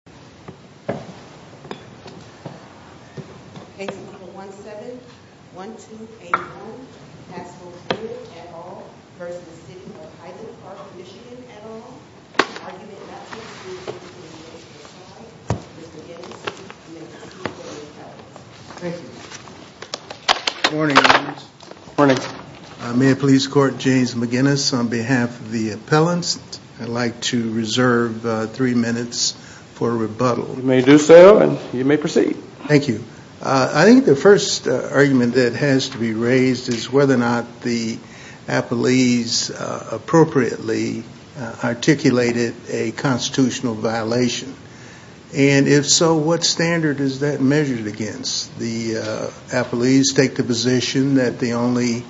1-7-1-2-8-1 Skell Greer v. City of Highland Park MI Argument not to exclude James McGinnis on behalf of the appellants. I think the first argument that has to be raised is whether or not the appellees appropriately articulated a constitutional violation. And if so, what standard is that measured against? The appellees take the position that they only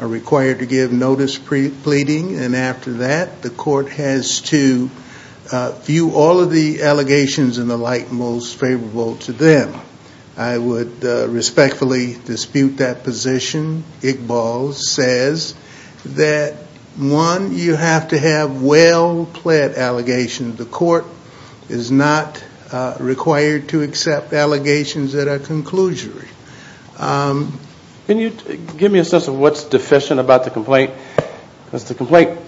are required to give notice pre-pleading and after that the court has to view all of the allegations in the light most favorable to them. I would respectfully dispute that position. Iqbal says that one, you have to have well-pled allegations. The court is not required to accept allegations that are conclusory. Can you give me a sense of what's deficient about the complaint? The complaint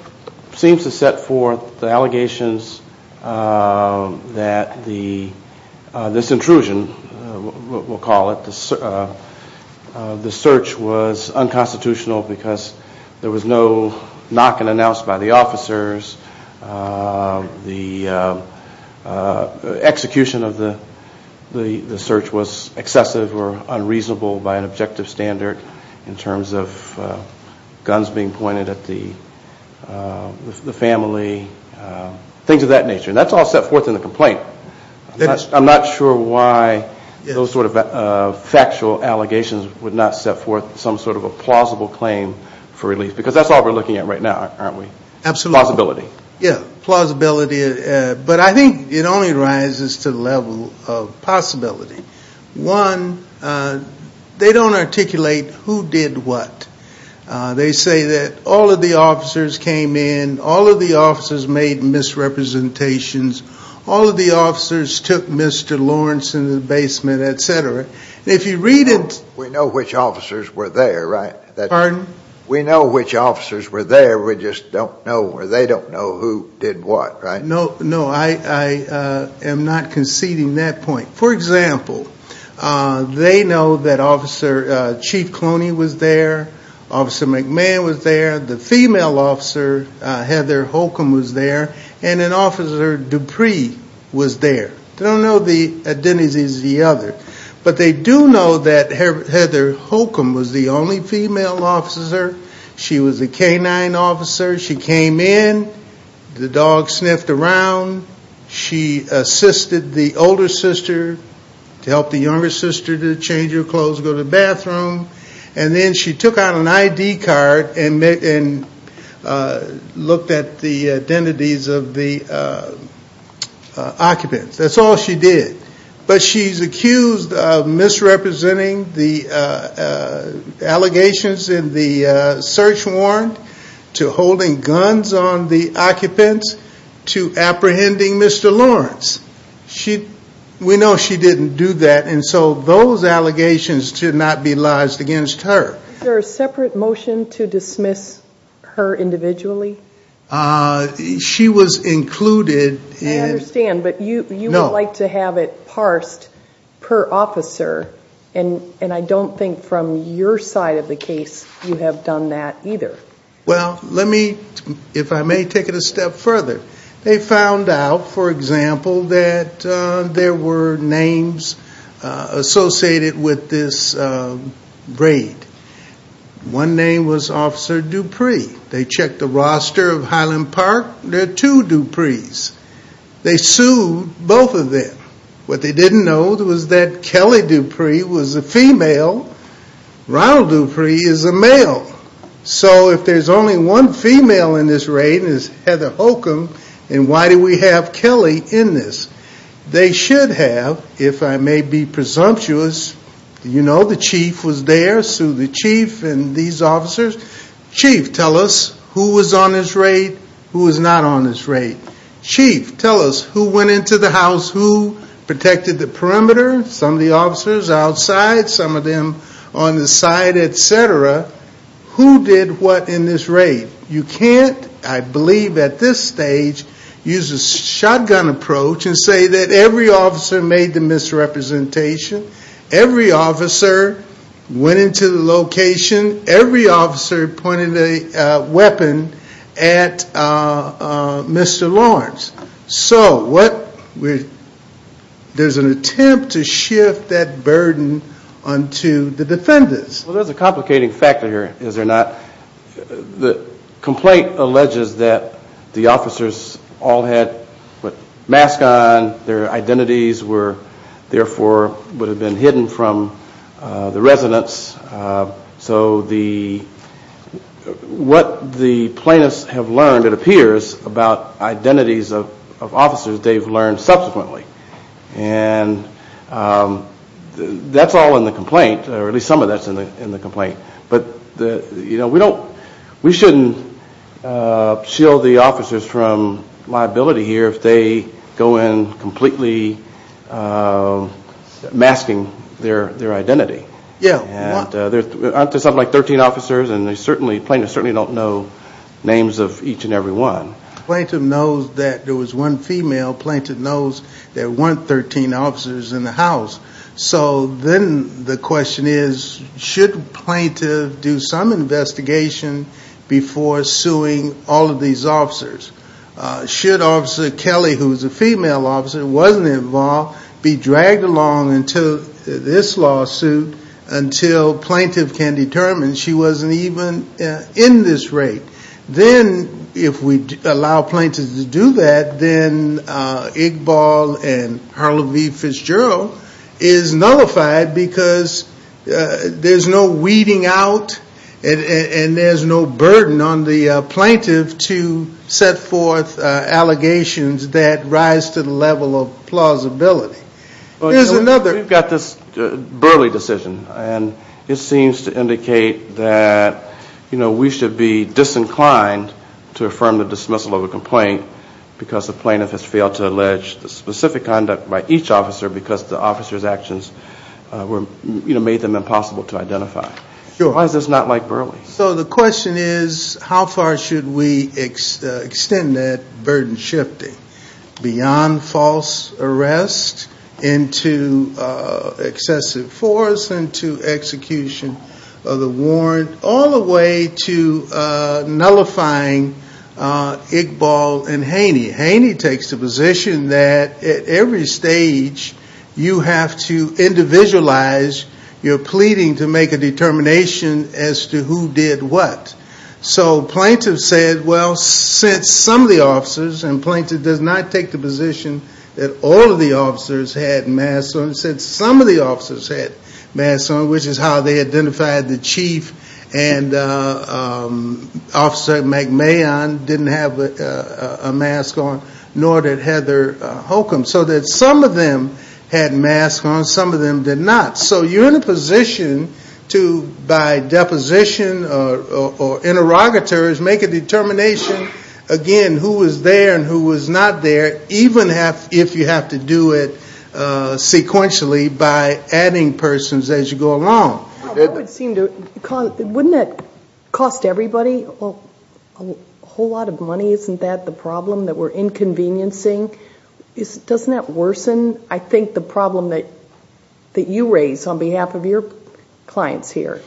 seems to set forth the allegations that this intrusion, we'll call it, the search was unconstitutional because there was no knock and announce by the officers. The execution of the search was excessive or unreasonable by an objective standard in terms of guns being pointed at the family, things of that nature. That's all set forth in the complaint. I'm not sure why those sort of factual allegations would not set forth some sort of a plausible claim for release. Because that's all we're looking at right now, aren't we? Plausibility. Yeah, plausibility. But I think it only rises to the level of possibility. One, they don't articulate who did what. They say that all of the officers came in, all of the officers made misrepresentations, all of the officers took Mr. Lawrence in the basement, etc. We know which officers were there, right? Pardon? We know which officers were there, we just don't know, or they don't know who did what, right? No, I am not conceding that point. For example, they know that Chief Clooney was there, Officer McMahon was there, the female officer, Heather Holcomb, was there, and then Officer Dupree was there. They don't know the identities of the others. But they do know that Heather Holcomb was the only female officer. She was a canine officer. She came in, the dog sniffed around, she assisted the older sister to help the younger sister to change her clothes and go to the bathroom. And then she took out an ID card and looked at the identities of the occupants. That's all she did. But she's accused of misrepresenting the allegations in the search warrant, to holding guns on the occupants, to apprehending Mr. Lawrence. We know she didn't do that, and so those allegations should not be liased against her. Is there a separate motion to dismiss her individually? She was included in... I understand, but you would like to have it parsed per officer, and I don't think from your side of the case you have done that either. Well, let me, if I may, take it a step further. They found out, for example, that there were names associated with this raid. One name was Officer Dupree. They checked the roster of Highland Park. There are two Duprees. They sued both of them. What they didn't know was that Kelly Dupree was a female. Ronald Dupree is a male. So if there's only one female in this raid, it's Heather Holcomb, then why do we have Kelly in this? They should have, if I may be presumptuous, you know the chief was there, sued the chief and these officers. Chief, tell us who was on this raid, who was not on this raid. Chief, tell us who went into the house, who protected the perimeter, some of the officers outside, some of them on the side, etc. Who did what in this raid? You can't, I believe at this stage, use a shotgun approach and say that every officer made the misrepresentation. Every officer went into the location. Every officer pointed a weapon at Mr. Lawrence. So there's an attempt to shift that burden onto the defendants. Well, there's a complicating factor here, is there not? The complaint alleges that the officers all had masks on, their identities therefore would have been hidden from the residents. So what the plaintiffs have learned, it appears, about identities of officers, they've learned subsequently. And that's all in the complaint, or at least some of that's in the complaint. But we shouldn't shield the officers from liability here if they go in completely masking their identity. There's something like 13 officers and plaintiffs certainly don't know names of each and every one. Plaintiff knows that there was one female plaintiff knows there weren't 13 officers in the house. So then the question is, should plaintiff do some investigation before suing all of these officers? Should Officer Kelly, who's a female officer, wasn't involved, be dragged along into this lawsuit until plaintiff can determine she wasn't even in this raid? Then, if we allow plaintiffs to do that, then Iqbal and Harlevie Fitzgerald is nullified because there's no weeding out, and there's no burden on the plaintiff to set forth allegations that rise to the level of plausibility. We've got this Burley decision, and it seems to indicate that we should be disinclined to affirm the dismissal of a complaint because the plaintiff has failed to allege the specific conduct by each officer because the officer's actions made them impossible to identify. Why is this not like Burley? So the question is, how far should we extend that burden shifting? Beyond false arrest, into excessive force, into execution of the warrant, all the way to nullifying Iqbal and Haney. Haney takes the position that at every stage, you have to individualize your pleading to make a determination as to who did what. So plaintiff said, well, since some of the officers, and plaintiff does not take the position that all of the officers had masks on, nor did Heather Holcomb, so that some of them had masks on, some of them did not. So you're in a position to, by deposition or interrogators, make a determination, again, who was there and who was not there, even if you have to do it sequentially by adding persons as you go along. Wouldn't that cost everybody? A whole lot of money, isn't that the problem that we're inconveniencing? Doesn't that worsen, I think, the problem that you raise on behalf of your clients here?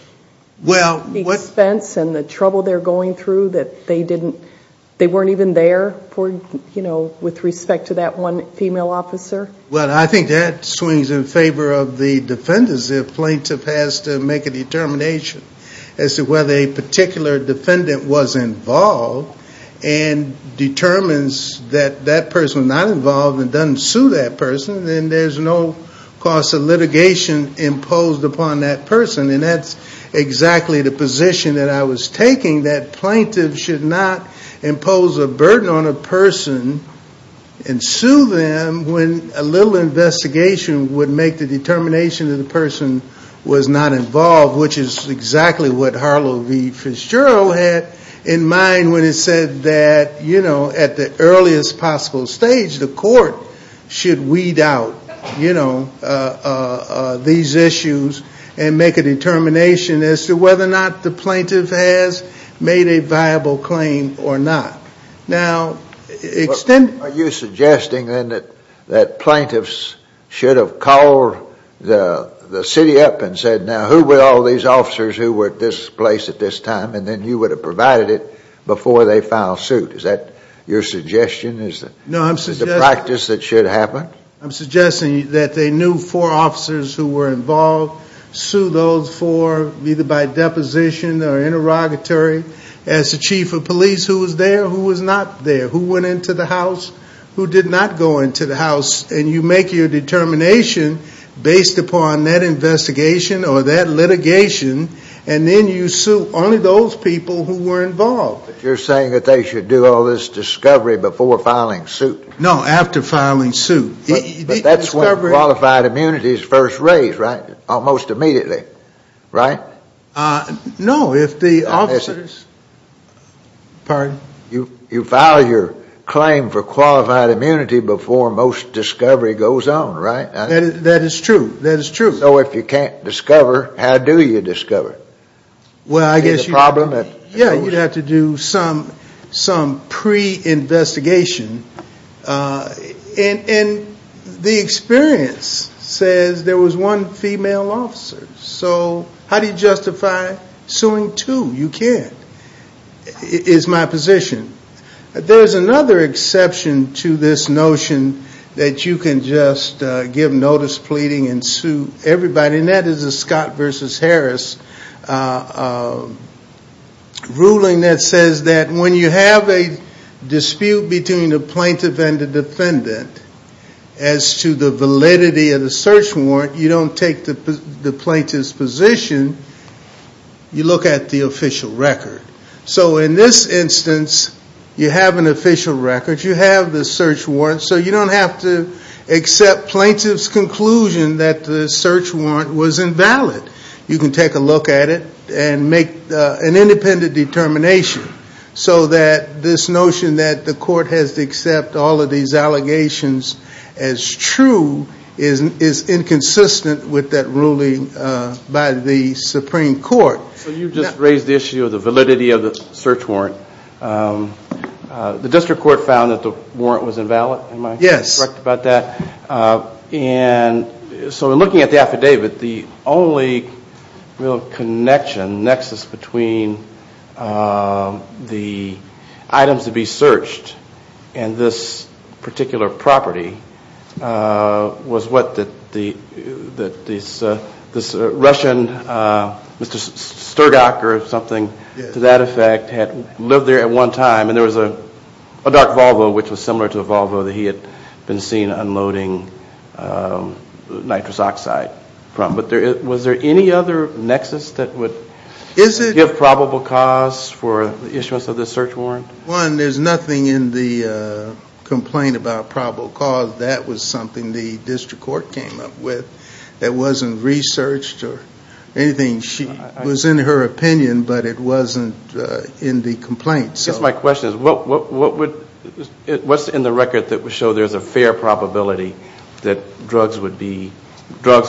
The expense and the trouble they're going through that they weren't even there with respect to that one female officer? Well, I think that swings in favor of the defendants. If plaintiff has to make a determination as to whether a particular defendant was involved, and determines that that person was not involved and doesn't sue that person, then there's no cost of litigation imposed upon that person. And that's exactly the position that I was taking, that plaintiffs should not impose a burden on a person and sue them when a little investigation would make the determination that the person was not involved, which is exactly what Harlow v. Fitzgerald had in mind when it said that, at the earliest possible stage, the court should weed out these issues and make a determination as to whether or not the plaintiff has made a viable claim or not. Are you suggesting, then, that plaintiffs should have called the city up and said, now, who were all these officers who were at this place at this time? And then you would have provided it before they filed suit. Is that your suggestion? Is it the practice that should happen? I'm suggesting that they knew four officers who were involved, sue those four either by deposition or interrogatory, as the chief of police who was there, who was not there, who went into the house, who did not go into the house, and you make your determination based upon that investigation or that litigation, and then you sue only those people who were involved. But you're saying that they should do all this discovery before filing suit. No, after filing suit. But that's when qualified immunity is first raised, right, almost immediately, right? No, if the officers, pardon? You file your claim for qualified immunity before most discovery goes on, right? That is true. That is true. So if you can't discover, how do you discover? Well, I guess you'd have to do some pre-investigation and the experience says there was one female officer, so how do you justify suing two? You can't, is my position. There's another exception to this notion that you can just give notice pleading and sue everybody, and that is the Scott v. Harris ruling that says that when you have a dispute between the plaintiff and the defendant as to the validity of the search warrant, you don't take the plaintiff's position, you look at the official record. So in this instance, you have an official record, you have the search warrant, so you don't have to accept plaintiff's conclusion that the search warrant was invalid. You can take a look at it and make an independent determination so that this notion that the court has to accept all of these allegations as true is inconsistent with that ruling by the Supreme Court. So you just raised the issue of the validity of the search warrant. The district court found that the warrant was invalid. Am I correct about that? Yes. And so in looking at the affidavit, the only real connection, nexus between the items to be searched and this particular property was what this Russian, Mr. Sturdock or something to that effect, had lived there at one time, and there was a dark Volvo, which was similar to a Volvo that he had been seen unloading nitrous oxide from. But was there any other nexus that would give probable cause for the issuance of this search warrant? One, there's nothing in the complaint about probable cause. That was something the district court came up with. It wasn't researched or anything. It was in her opinion, but it wasn't in the complaint. That's my question. What's in the record that would show there's a fair probability that drugs,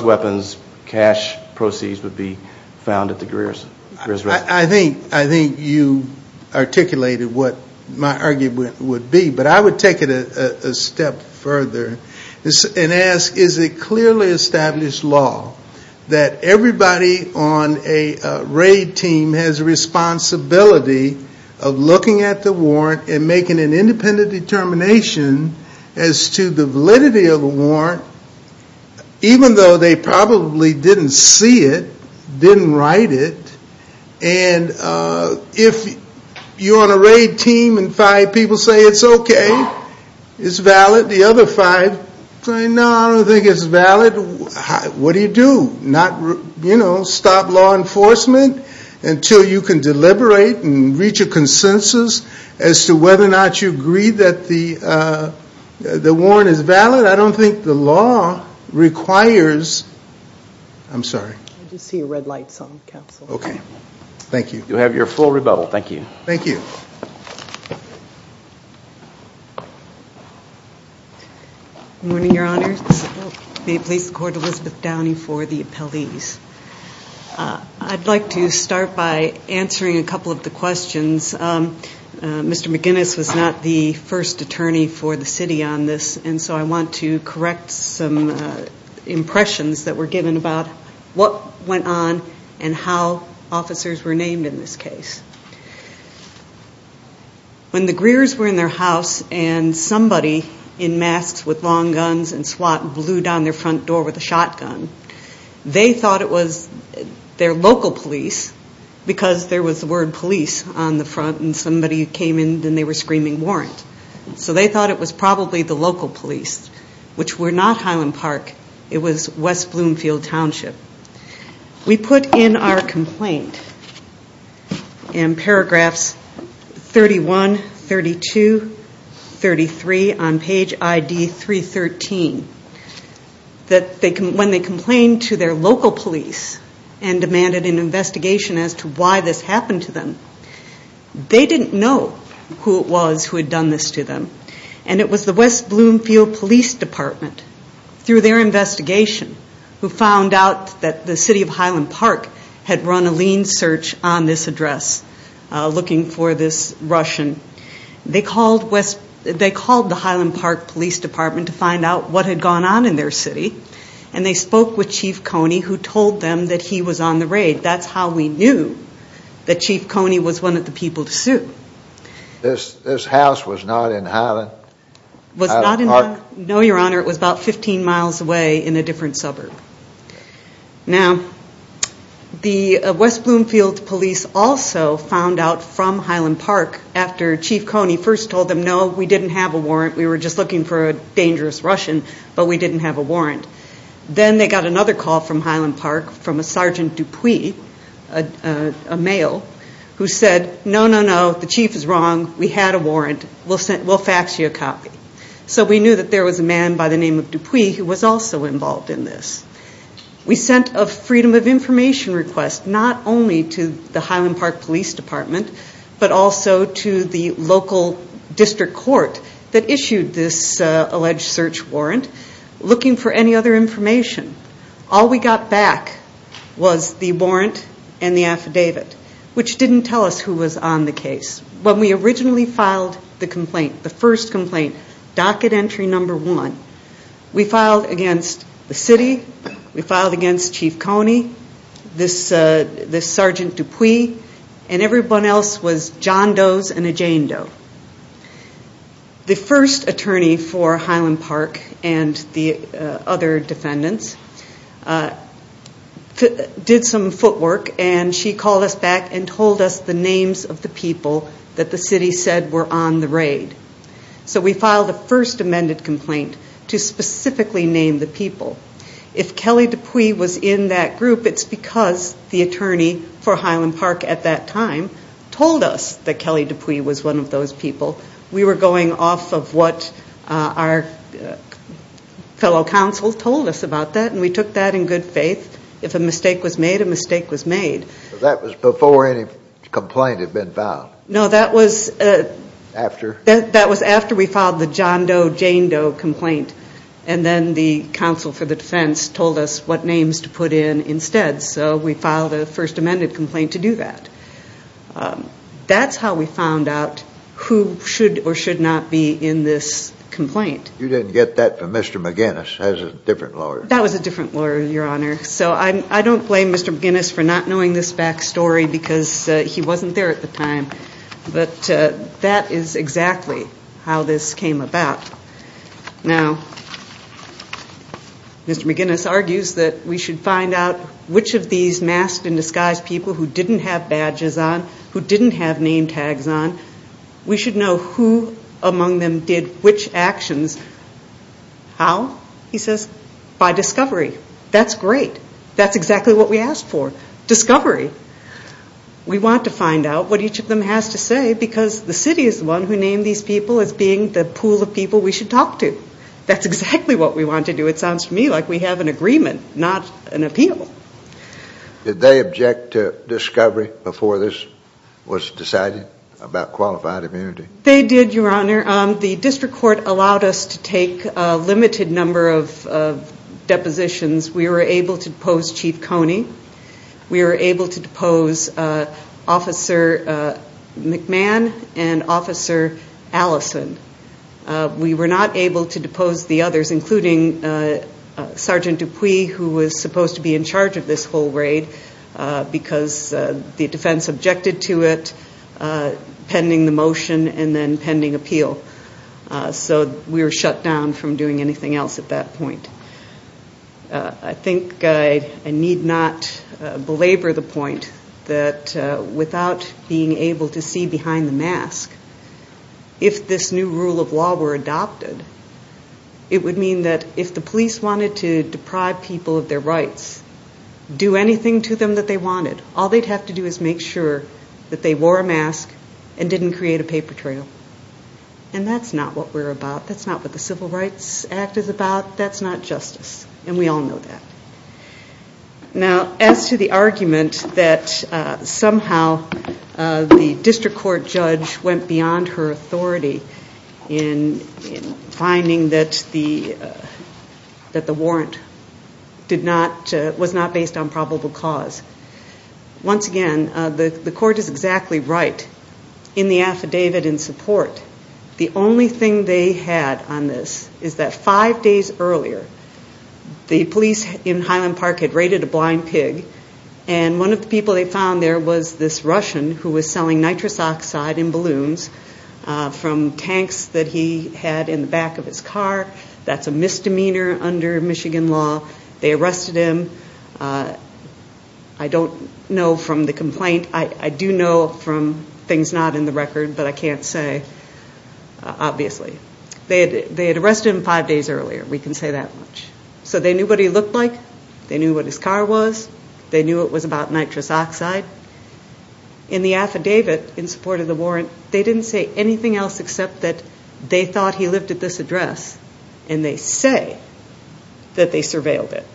weapons, cash proceeds would be found at the Greer's Residence? I think you articulated what my argument would be, but I would take it a step further and ask, is it clearly established law that everybody on a raid team has a responsibility of looking at the warrant and making an independent determination as to the validity of the warrant, even though they probably didn't see it, didn't write it, and if you're on a raid team and five people say it's okay, it's valid, the other five say, no, I don't think it's valid, what do you do? Stop law enforcement until you can deliberate and reach a consensus as to whether or not you agree that the warrant is valid? I don't think the law requires. I'm sorry. I just see red lights on the council. Okay. Thank you. You have your full rebuttal. Thank you. Thank you. Good morning, Your Honor. May it please the Court, Elizabeth Downey for the appellees. I'd like to start by answering a couple of the questions. Mr. McGinnis was not the first attorney for the city on this, and so I want to correct some impressions that were given about what went on and how officers were named in this case. When the Greers were in their house and somebody in masks with long guns and SWAT blew down their front door with a shotgun, they thought it was their local police because there was the word police on the front and somebody came in and they were screaming warrant. So they thought it was probably the local police, which were not Highland Park. It was West Bloomfield Township. We put in our complaint in paragraphs 31, 32, 33 on page ID 313 that when they complained to their local police and demanded an investigation as to why this happened to them, they didn't know who it was who had done this to them, and it was the West Bloomfield Police Department, through their investigation, who found out that the city of Highland Park had run a lean search on this address looking for this Russian. They called the Highland Park Police Department to find out what had gone on in their city, and they spoke with Chief Coney who told them that he was on the raid. That's how we knew that Chief Coney was one of the people to sue. This house was not in Highland Park? No, Your Honor, it was about 15 miles away in a different suburb. Now, the West Bloomfield Police also found out from Highland Park after Chief Coney first told them, no, we didn't have a warrant, we were just looking for a dangerous Russian, but we didn't have a warrant. Then they got another call from Highland Park from a Sergeant Dupuy, a male, who said, no, no, no, the Chief is wrong, we had a warrant, we'll fax you a copy. So we knew that there was a man by the name of Dupuy who was also involved in this. We sent a freedom of information request not only to the Highland Park Police Department, but also to the local district court that issued this alleged search warrant looking for any other information. All we got back was the warrant and the affidavit, which didn't tell us who was on the case. When we originally filed the complaint, the first complaint, docket entry number one, we filed against the city, we filed against Chief Coney, this Sergeant Dupuy, and everyone else was John Does and a Jane Doe. The first attorney for Highland Park and the other defendants did some footwork and she called us back and told us the names of the people that the city said were on the raid. So we filed a first amended complaint to specifically name the people. If Kelly Dupuy was in that group, it's because the attorney for Highland Park at that time told us that Kelly Dupuy was one of those people. We were going off of what our fellow counsel told us about that, and we took that in good faith. If a mistake was made, a mistake was made. That was before any complaint had been filed. No, that was after we filed the John Doe, Jane Doe complaint, and then the counsel for the defense told us what names to put in instead. So we filed a first amended complaint to do that. That's how we found out who should or should not be in this complaint. You didn't get that from Mr. McGinnis as a different lawyer. That was a different lawyer, Your Honor. So I don't blame Mr. McGinnis for not knowing this back story because he wasn't there at the time, but that is exactly how this came about. Now, Mr. McGinnis argues that we should find out which of these masked and disguised people who didn't have badges on, who didn't have name tags on, and we should know who among them did which actions. How? He says by discovery. That's great. That's exactly what we asked for, discovery. We want to find out what each of them has to say because the city is the one who named these people as being the pool of people we should talk to. That's exactly what we want to do. It sounds to me like we have an agreement, not an appeal. Did they object to discovery before this was decided about qualified immunity? They did, Your Honor. The district court allowed us to take a limited number of depositions. We were able to depose Chief Coney. We were able to depose Officer McMahon and Officer Allison. We were not able to depose the others, including Sergeant Dupuis, who was supposed to be in charge of this whole raid because the defense objected to it, pending the motion and then pending appeal. So we were shut down from doing anything else at that point. I think I need not belabor the point that without being able to see behind the mask, if this new rule of law were adopted, it would mean that if the police wanted to deprive people of their rights, do anything to them that they wanted, all they'd have to do is make sure that they wore a mask and didn't create a paper trail. And that's not what we're about. That's not what the Civil Rights Act is about. That's not justice, and we all know that. Now, as to the argument that somehow the district court judge went beyond her authority in finding that the warrant was not based on probable cause, once again, the court is exactly right in the affidavit in support. The only thing they had on this is that five days earlier, the police in Highland Park had raided a blind pig, and one of the people they found there was this Russian who was selling nitrous oxide in balloons from tanks that he had in the back of his car. That's a misdemeanor under Michigan law. They arrested him. I don't know from the complaint. I do know from things not in the record, but I can't say, obviously. They had arrested him five days earlier. We can say that much. So they knew what he looked like. They knew what his car was. They knew it was about nitrous oxide. In the affidavit in support of the warrant, they didn't say anything else except that they thought he lived at this address, and they say that they surveilled it.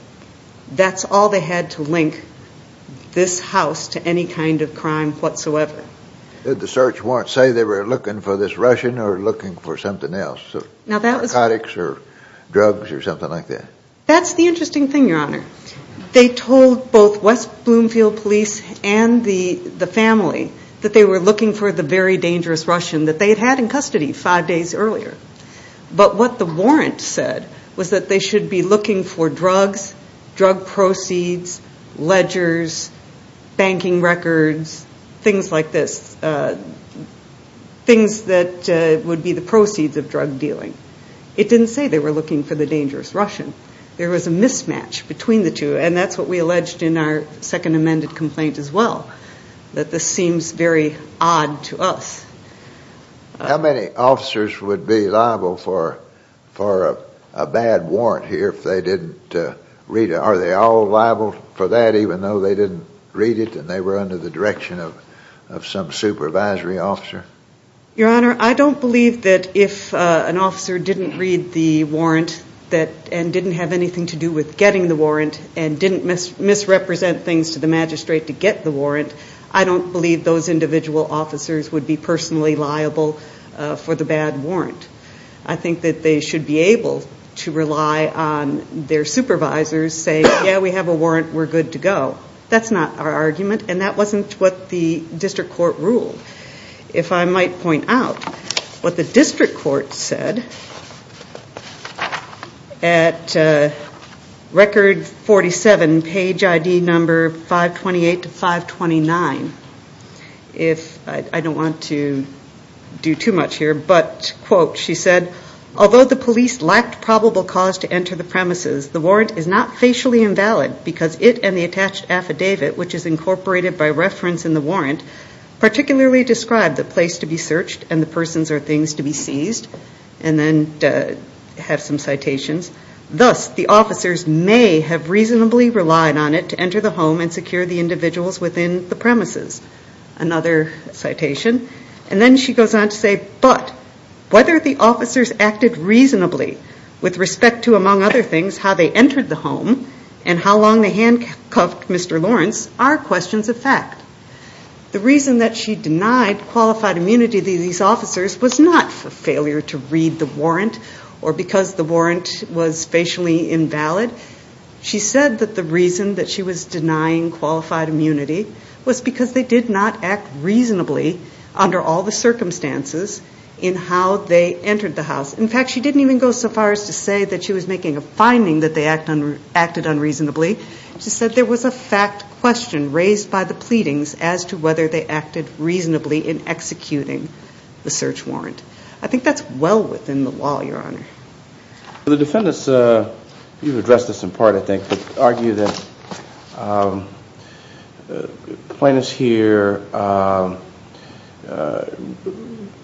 That's all they had to link this house to any kind of crime whatsoever. Did the search warrant say they were looking for this Russian or looking for something else, narcotics or drugs or something like that? That's the interesting thing, Your Honor. They told both West Bloomfield Police and the family that they were looking for the very dangerous Russian that they had had in custody five days earlier. Drugs, drug proceeds, ledgers, banking records, things like this, things that would be the proceeds of drug dealing. It didn't say they were looking for the dangerous Russian. There was a mismatch between the two, and that's what we alleged in our second amended complaint as well, that this seems very odd to us. How many officers would be liable for a bad warrant here if they didn't read it? Are they all liable for that even though they didn't read it and they were under the direction of some supervisory officer? Your Honor, I don't believe that if an officer didn't read the warrant and didn't have anything to do with getting the warrant and didn't misrepresent things to the magistrate to get the warrant, I don't believe those individual officers would be personally liable for the bad warrant. I think that they should be able to rely on their supervisors saying, yeah, we have a warrant, we're good to go. That's not our argument, and that wasn't what the district court ruled. If I might point out what the district court said at Record 47, page ID number 528 to 529, if I don't want to do too much here, but, quote, she said, although the police lacked probable cause to enter the premises, the warrant is not facially invalid because it and the attached affidavit, which is incorporated by reference in the warrant, particularly describe the place to be searched and the persons or things to be seized, and then have some citations. Thus, the officers may have reasonably relied on it to enter the home and secure the individuals within the premises. Another citation. And then she goes on to say, but whether the officers acted reasonably with respect to, among other things, how they entered the home and how long they handcuffed Mr. Lawrence are questions of fact. The reason that she denied qualified immunity to these officers was not for failure to read the warrant or because the warrant was facially invalid. She said that the reason that she was denying qualified immunity was because they did not act reasonably under all the circumstances in how they entered the house. In fact, she didn't even go so far as to say that she was making a finding that they acted unreasonably. She said there was a fact question raised by the pleadings as to whether they acted reasonably in executing the search warrant. I think that's well within the law, Your Honor. The defendants, you've addressed this in part, I think, but argue that the plaintiffs here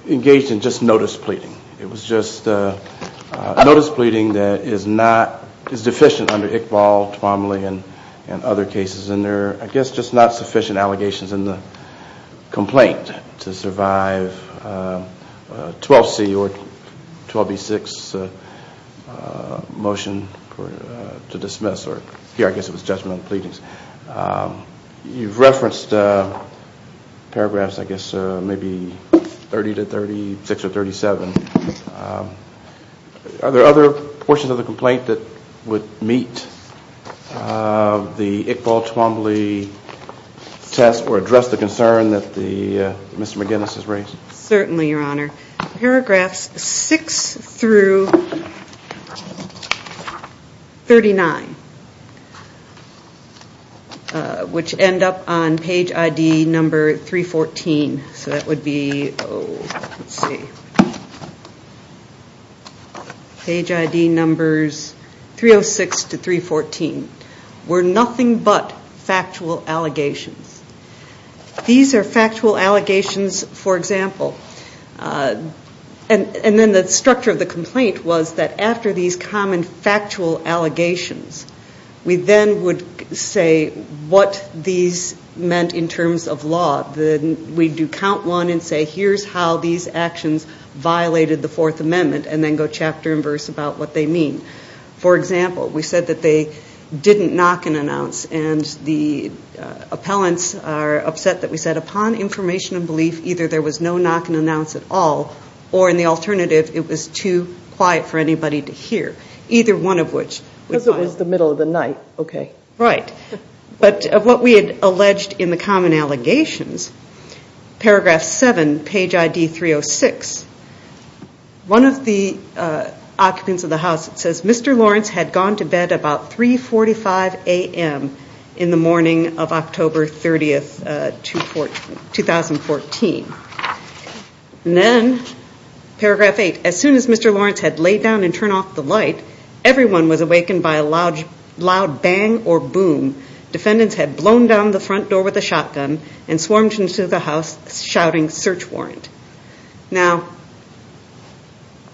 engaged in just notice pleading. It was just notice pleading that is deficient under Iqbal, Twomley, and other cases. And there are, I guess, just not sufficient allegations in the complaint to survive a 12C or 12B6 motion to dismiss. Here, I guess, it was judgment of the pleadings. You've referenced paragraphs, I guess, maybe 30 to 36 or 37. Are there other portions of the complaint that would meet the Iqbal-Twomley test or address the concern that Mr. McGinnis has raised? Certainly, Your Honor. Paragraphs 6 through 39, which end up on page ID number 314. So that would be, let's see, page ID numbers 306 to 314, were nothing but factual allegations. These are factual allegations, for example. And then the structure of the complaint was that after these common factual allegations, we then would say what these meant in terms of law. We do count one and say here's how these actions violated the Fourth Amendment and then go chapter and verse about what they mean. For example, we said that they didn't knock an ounce and the appellants are upset that we said upon information and belief, either there was no knock an ounce at all or, in the alternative, it was too quiet for anybody to hear, either one of which. Because it was the middle of the night, okay. Right. But what we had alleged in the common allegations, paragraph 7, page ID 306, one of the occupants of the house says Mr. Lawrence had gone to bed about 3.45 a.m. in the morning of October 30, 2014. And then paragraph 8, as soon as Mr. Lawrence had laid down and turned off the light, everyone was awakened by a loud bang or boom. Defendants had blown down the front door with a shotgun and swarmed into the house shouting search warrant. Now,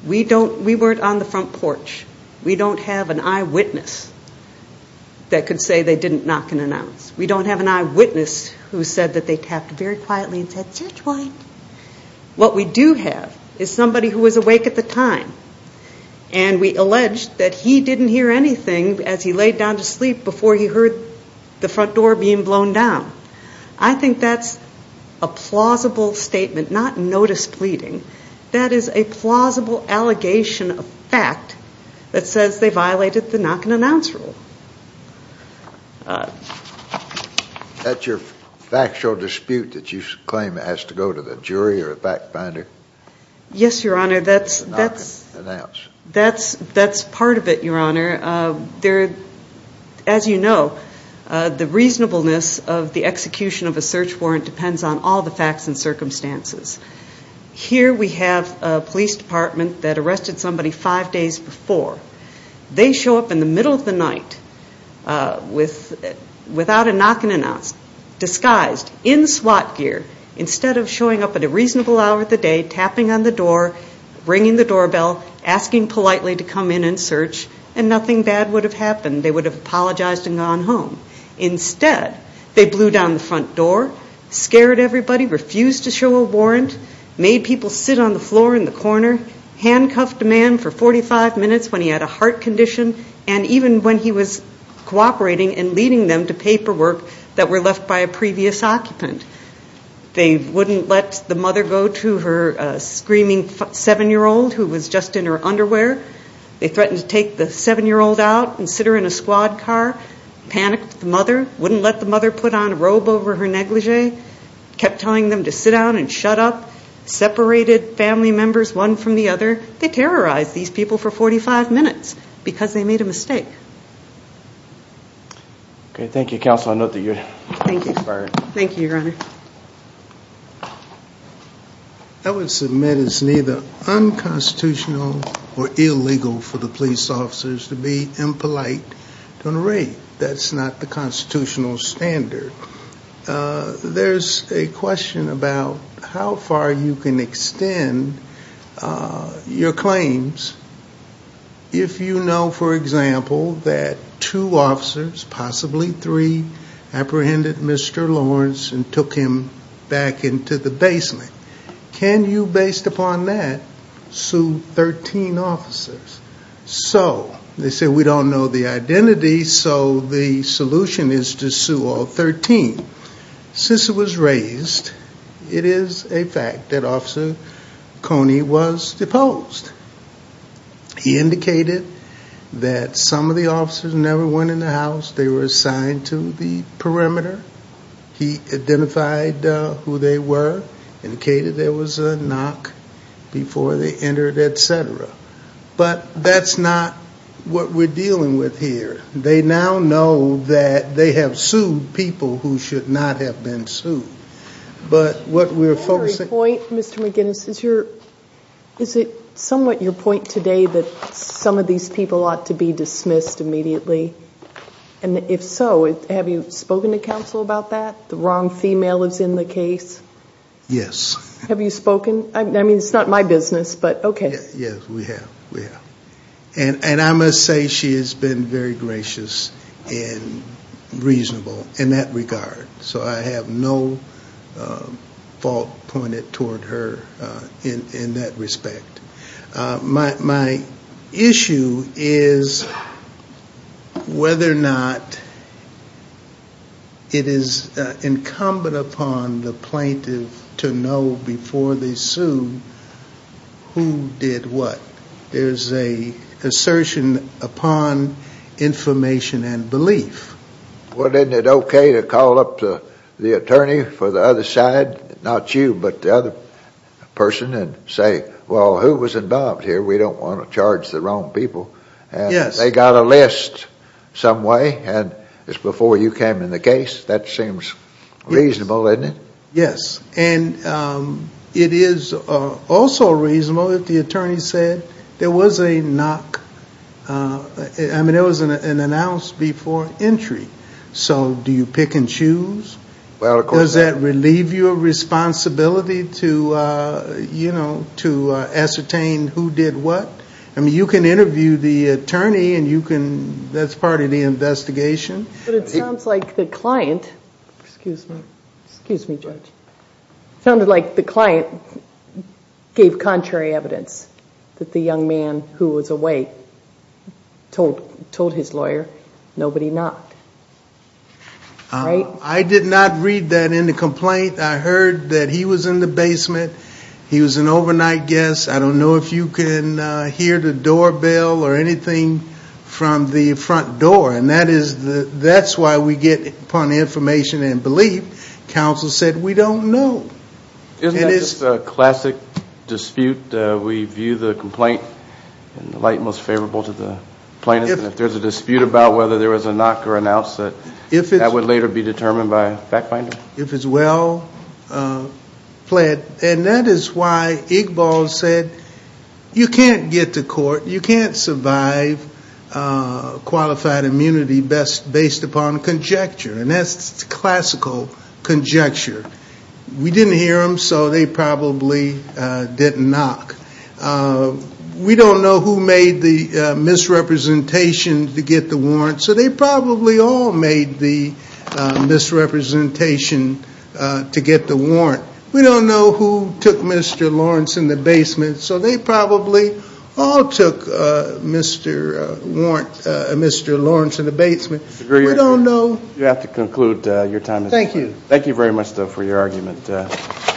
we weren't on the front porch. We don't have an eyewitness that could say they didn't knock an ounce. We don't have an eyewitness who said that they tapped very quietly and said search warrant. What we do have is somebody who was awake at the time and we alleged that he didn't hear anything as he laid down to sleep before he heard the front door being blown down. I think that's a plausible statement, not notice pleading. That is a plausible allegation of fact that says they violated the knock an ounce rule. That's your factual dispute that you claim has to go to the jury or the fact finder? Yes, Your Honor, that's part of it, Your Honor. As you know, the reasonableness of the execution of a search warrant depends on all the facts and circumstances. Here we have a police department that arrested somebody five days before. They show up in the middle of the night without a knock an ounce, disguised, in SWAT gear, instead of showing up at a reasonable hour of the day, tapping on the door, ringing the doorbell, asking politely to come in and search, and nothing bad would have happened. They would have apologized and gone home. Instead, they blew down the front door, scared everybody, refused to show a warrant, made people sit on the floor in the corner, handcuffed a man for 45 minutes when he had a heart condition, and even when he was cooperating and leading them to paperwork that were left by a previous occupant. They wouldn't let the mother go to her screaming seven-year-old who was just in her underwear. They threatened to take the seven-year-old out and sit her in a squad car, panicked the mother, wouldn't let the mother put on a robe over her negligee, kept telling them to sit down and shut up, separated family members one from the other. They terrorized these people for 45 minutes because they made a mistake. Okay, thank you, Counsel. I note that you're fired. Thank you, Your Honor. I would submit it's neither unconstitutional or illegal for the police officers to be impolite to a rape. That's not the constitutional standard. There's a question about how far you can extend your claims if you know, for example, that two officers, possibly three, apprehended Mr. Lawrence and took him back into the basement. Can you, based upon that, sue 13 officers? So, they say we don't know the identity, so the solution is to sue all 13. Since it was raised, it is a fact that Officer Coney was deposed. He indicated that some of the officers never went in the house. They were assigned to the perimeter. He identified who they were, indicated there was a knock before they entered, etc. But that's not what we're dealing with here. They now know that they have sued people who should not have been sued. But what we're focusing on— Can I make a point, Mr. McGinnis? Is it somewhat your point today that some of these people ought to be dismissed immediately? And if so, have you spoken to counsel about that, the wrong female is in the case? Yes. Have you spoken? I mean, it's not my business, but okay. Yes, we have. And I must say she has been very gracious and reasonable in that regard. So I have no fault pointed toward her in that respect. My issue is whether or not it is incumbent upon the plaintiff to know before they sue who did what. There's an assertion upon information and belief. Well, isn't it okay to call up the attorney for the other side—not you, but the other person—and say, Well, who was involved here? We don't want to charge the wrong people. And they got a list some way, and it's before you came in the case. That seems reasonable, isn't it? Yes. And it is also reasonable that the attorney said there was a knock. I mean, there was an announce before entry. So do you pick and choose? Well, of course. Does that relieve your responsibility to ascertain who did what? I mean, you can interview the attorney, and that's part of the investigation. But it sounds like the client gave contrary evidence that the young man who was awake told his lawyer nobody knocked. I did not read that in the complaint. I heard that he was in the basement. He was an overnight guest. I don't know if you can hear the doorbell or anything from the front door. And that's why we get upon information and belief. Counsel said, We don't know. Isn't that just a classic dispute? We view the complaint in the light most favorable to the plaintiff. And if there's a dispute about whether there was a knock or announce, that would later be determined by a fact finder? If it's well pled. And that is why Iqbal said, You can't get to court. You can't survive qualified immunity based upon conjecture. And that's classical conjecture. We didn't hear them, so they probably didn't knock. We don't know who made the misrepresentation to get the warrant. So they probably all made the misrepresentation to get the warrant. We don't know who took Mr. Lawrence in the basement. So they probably all took Mr. Lawrence in the basement. We don't know. You have to conclude your time. Thank you. Thank you very much for your argument.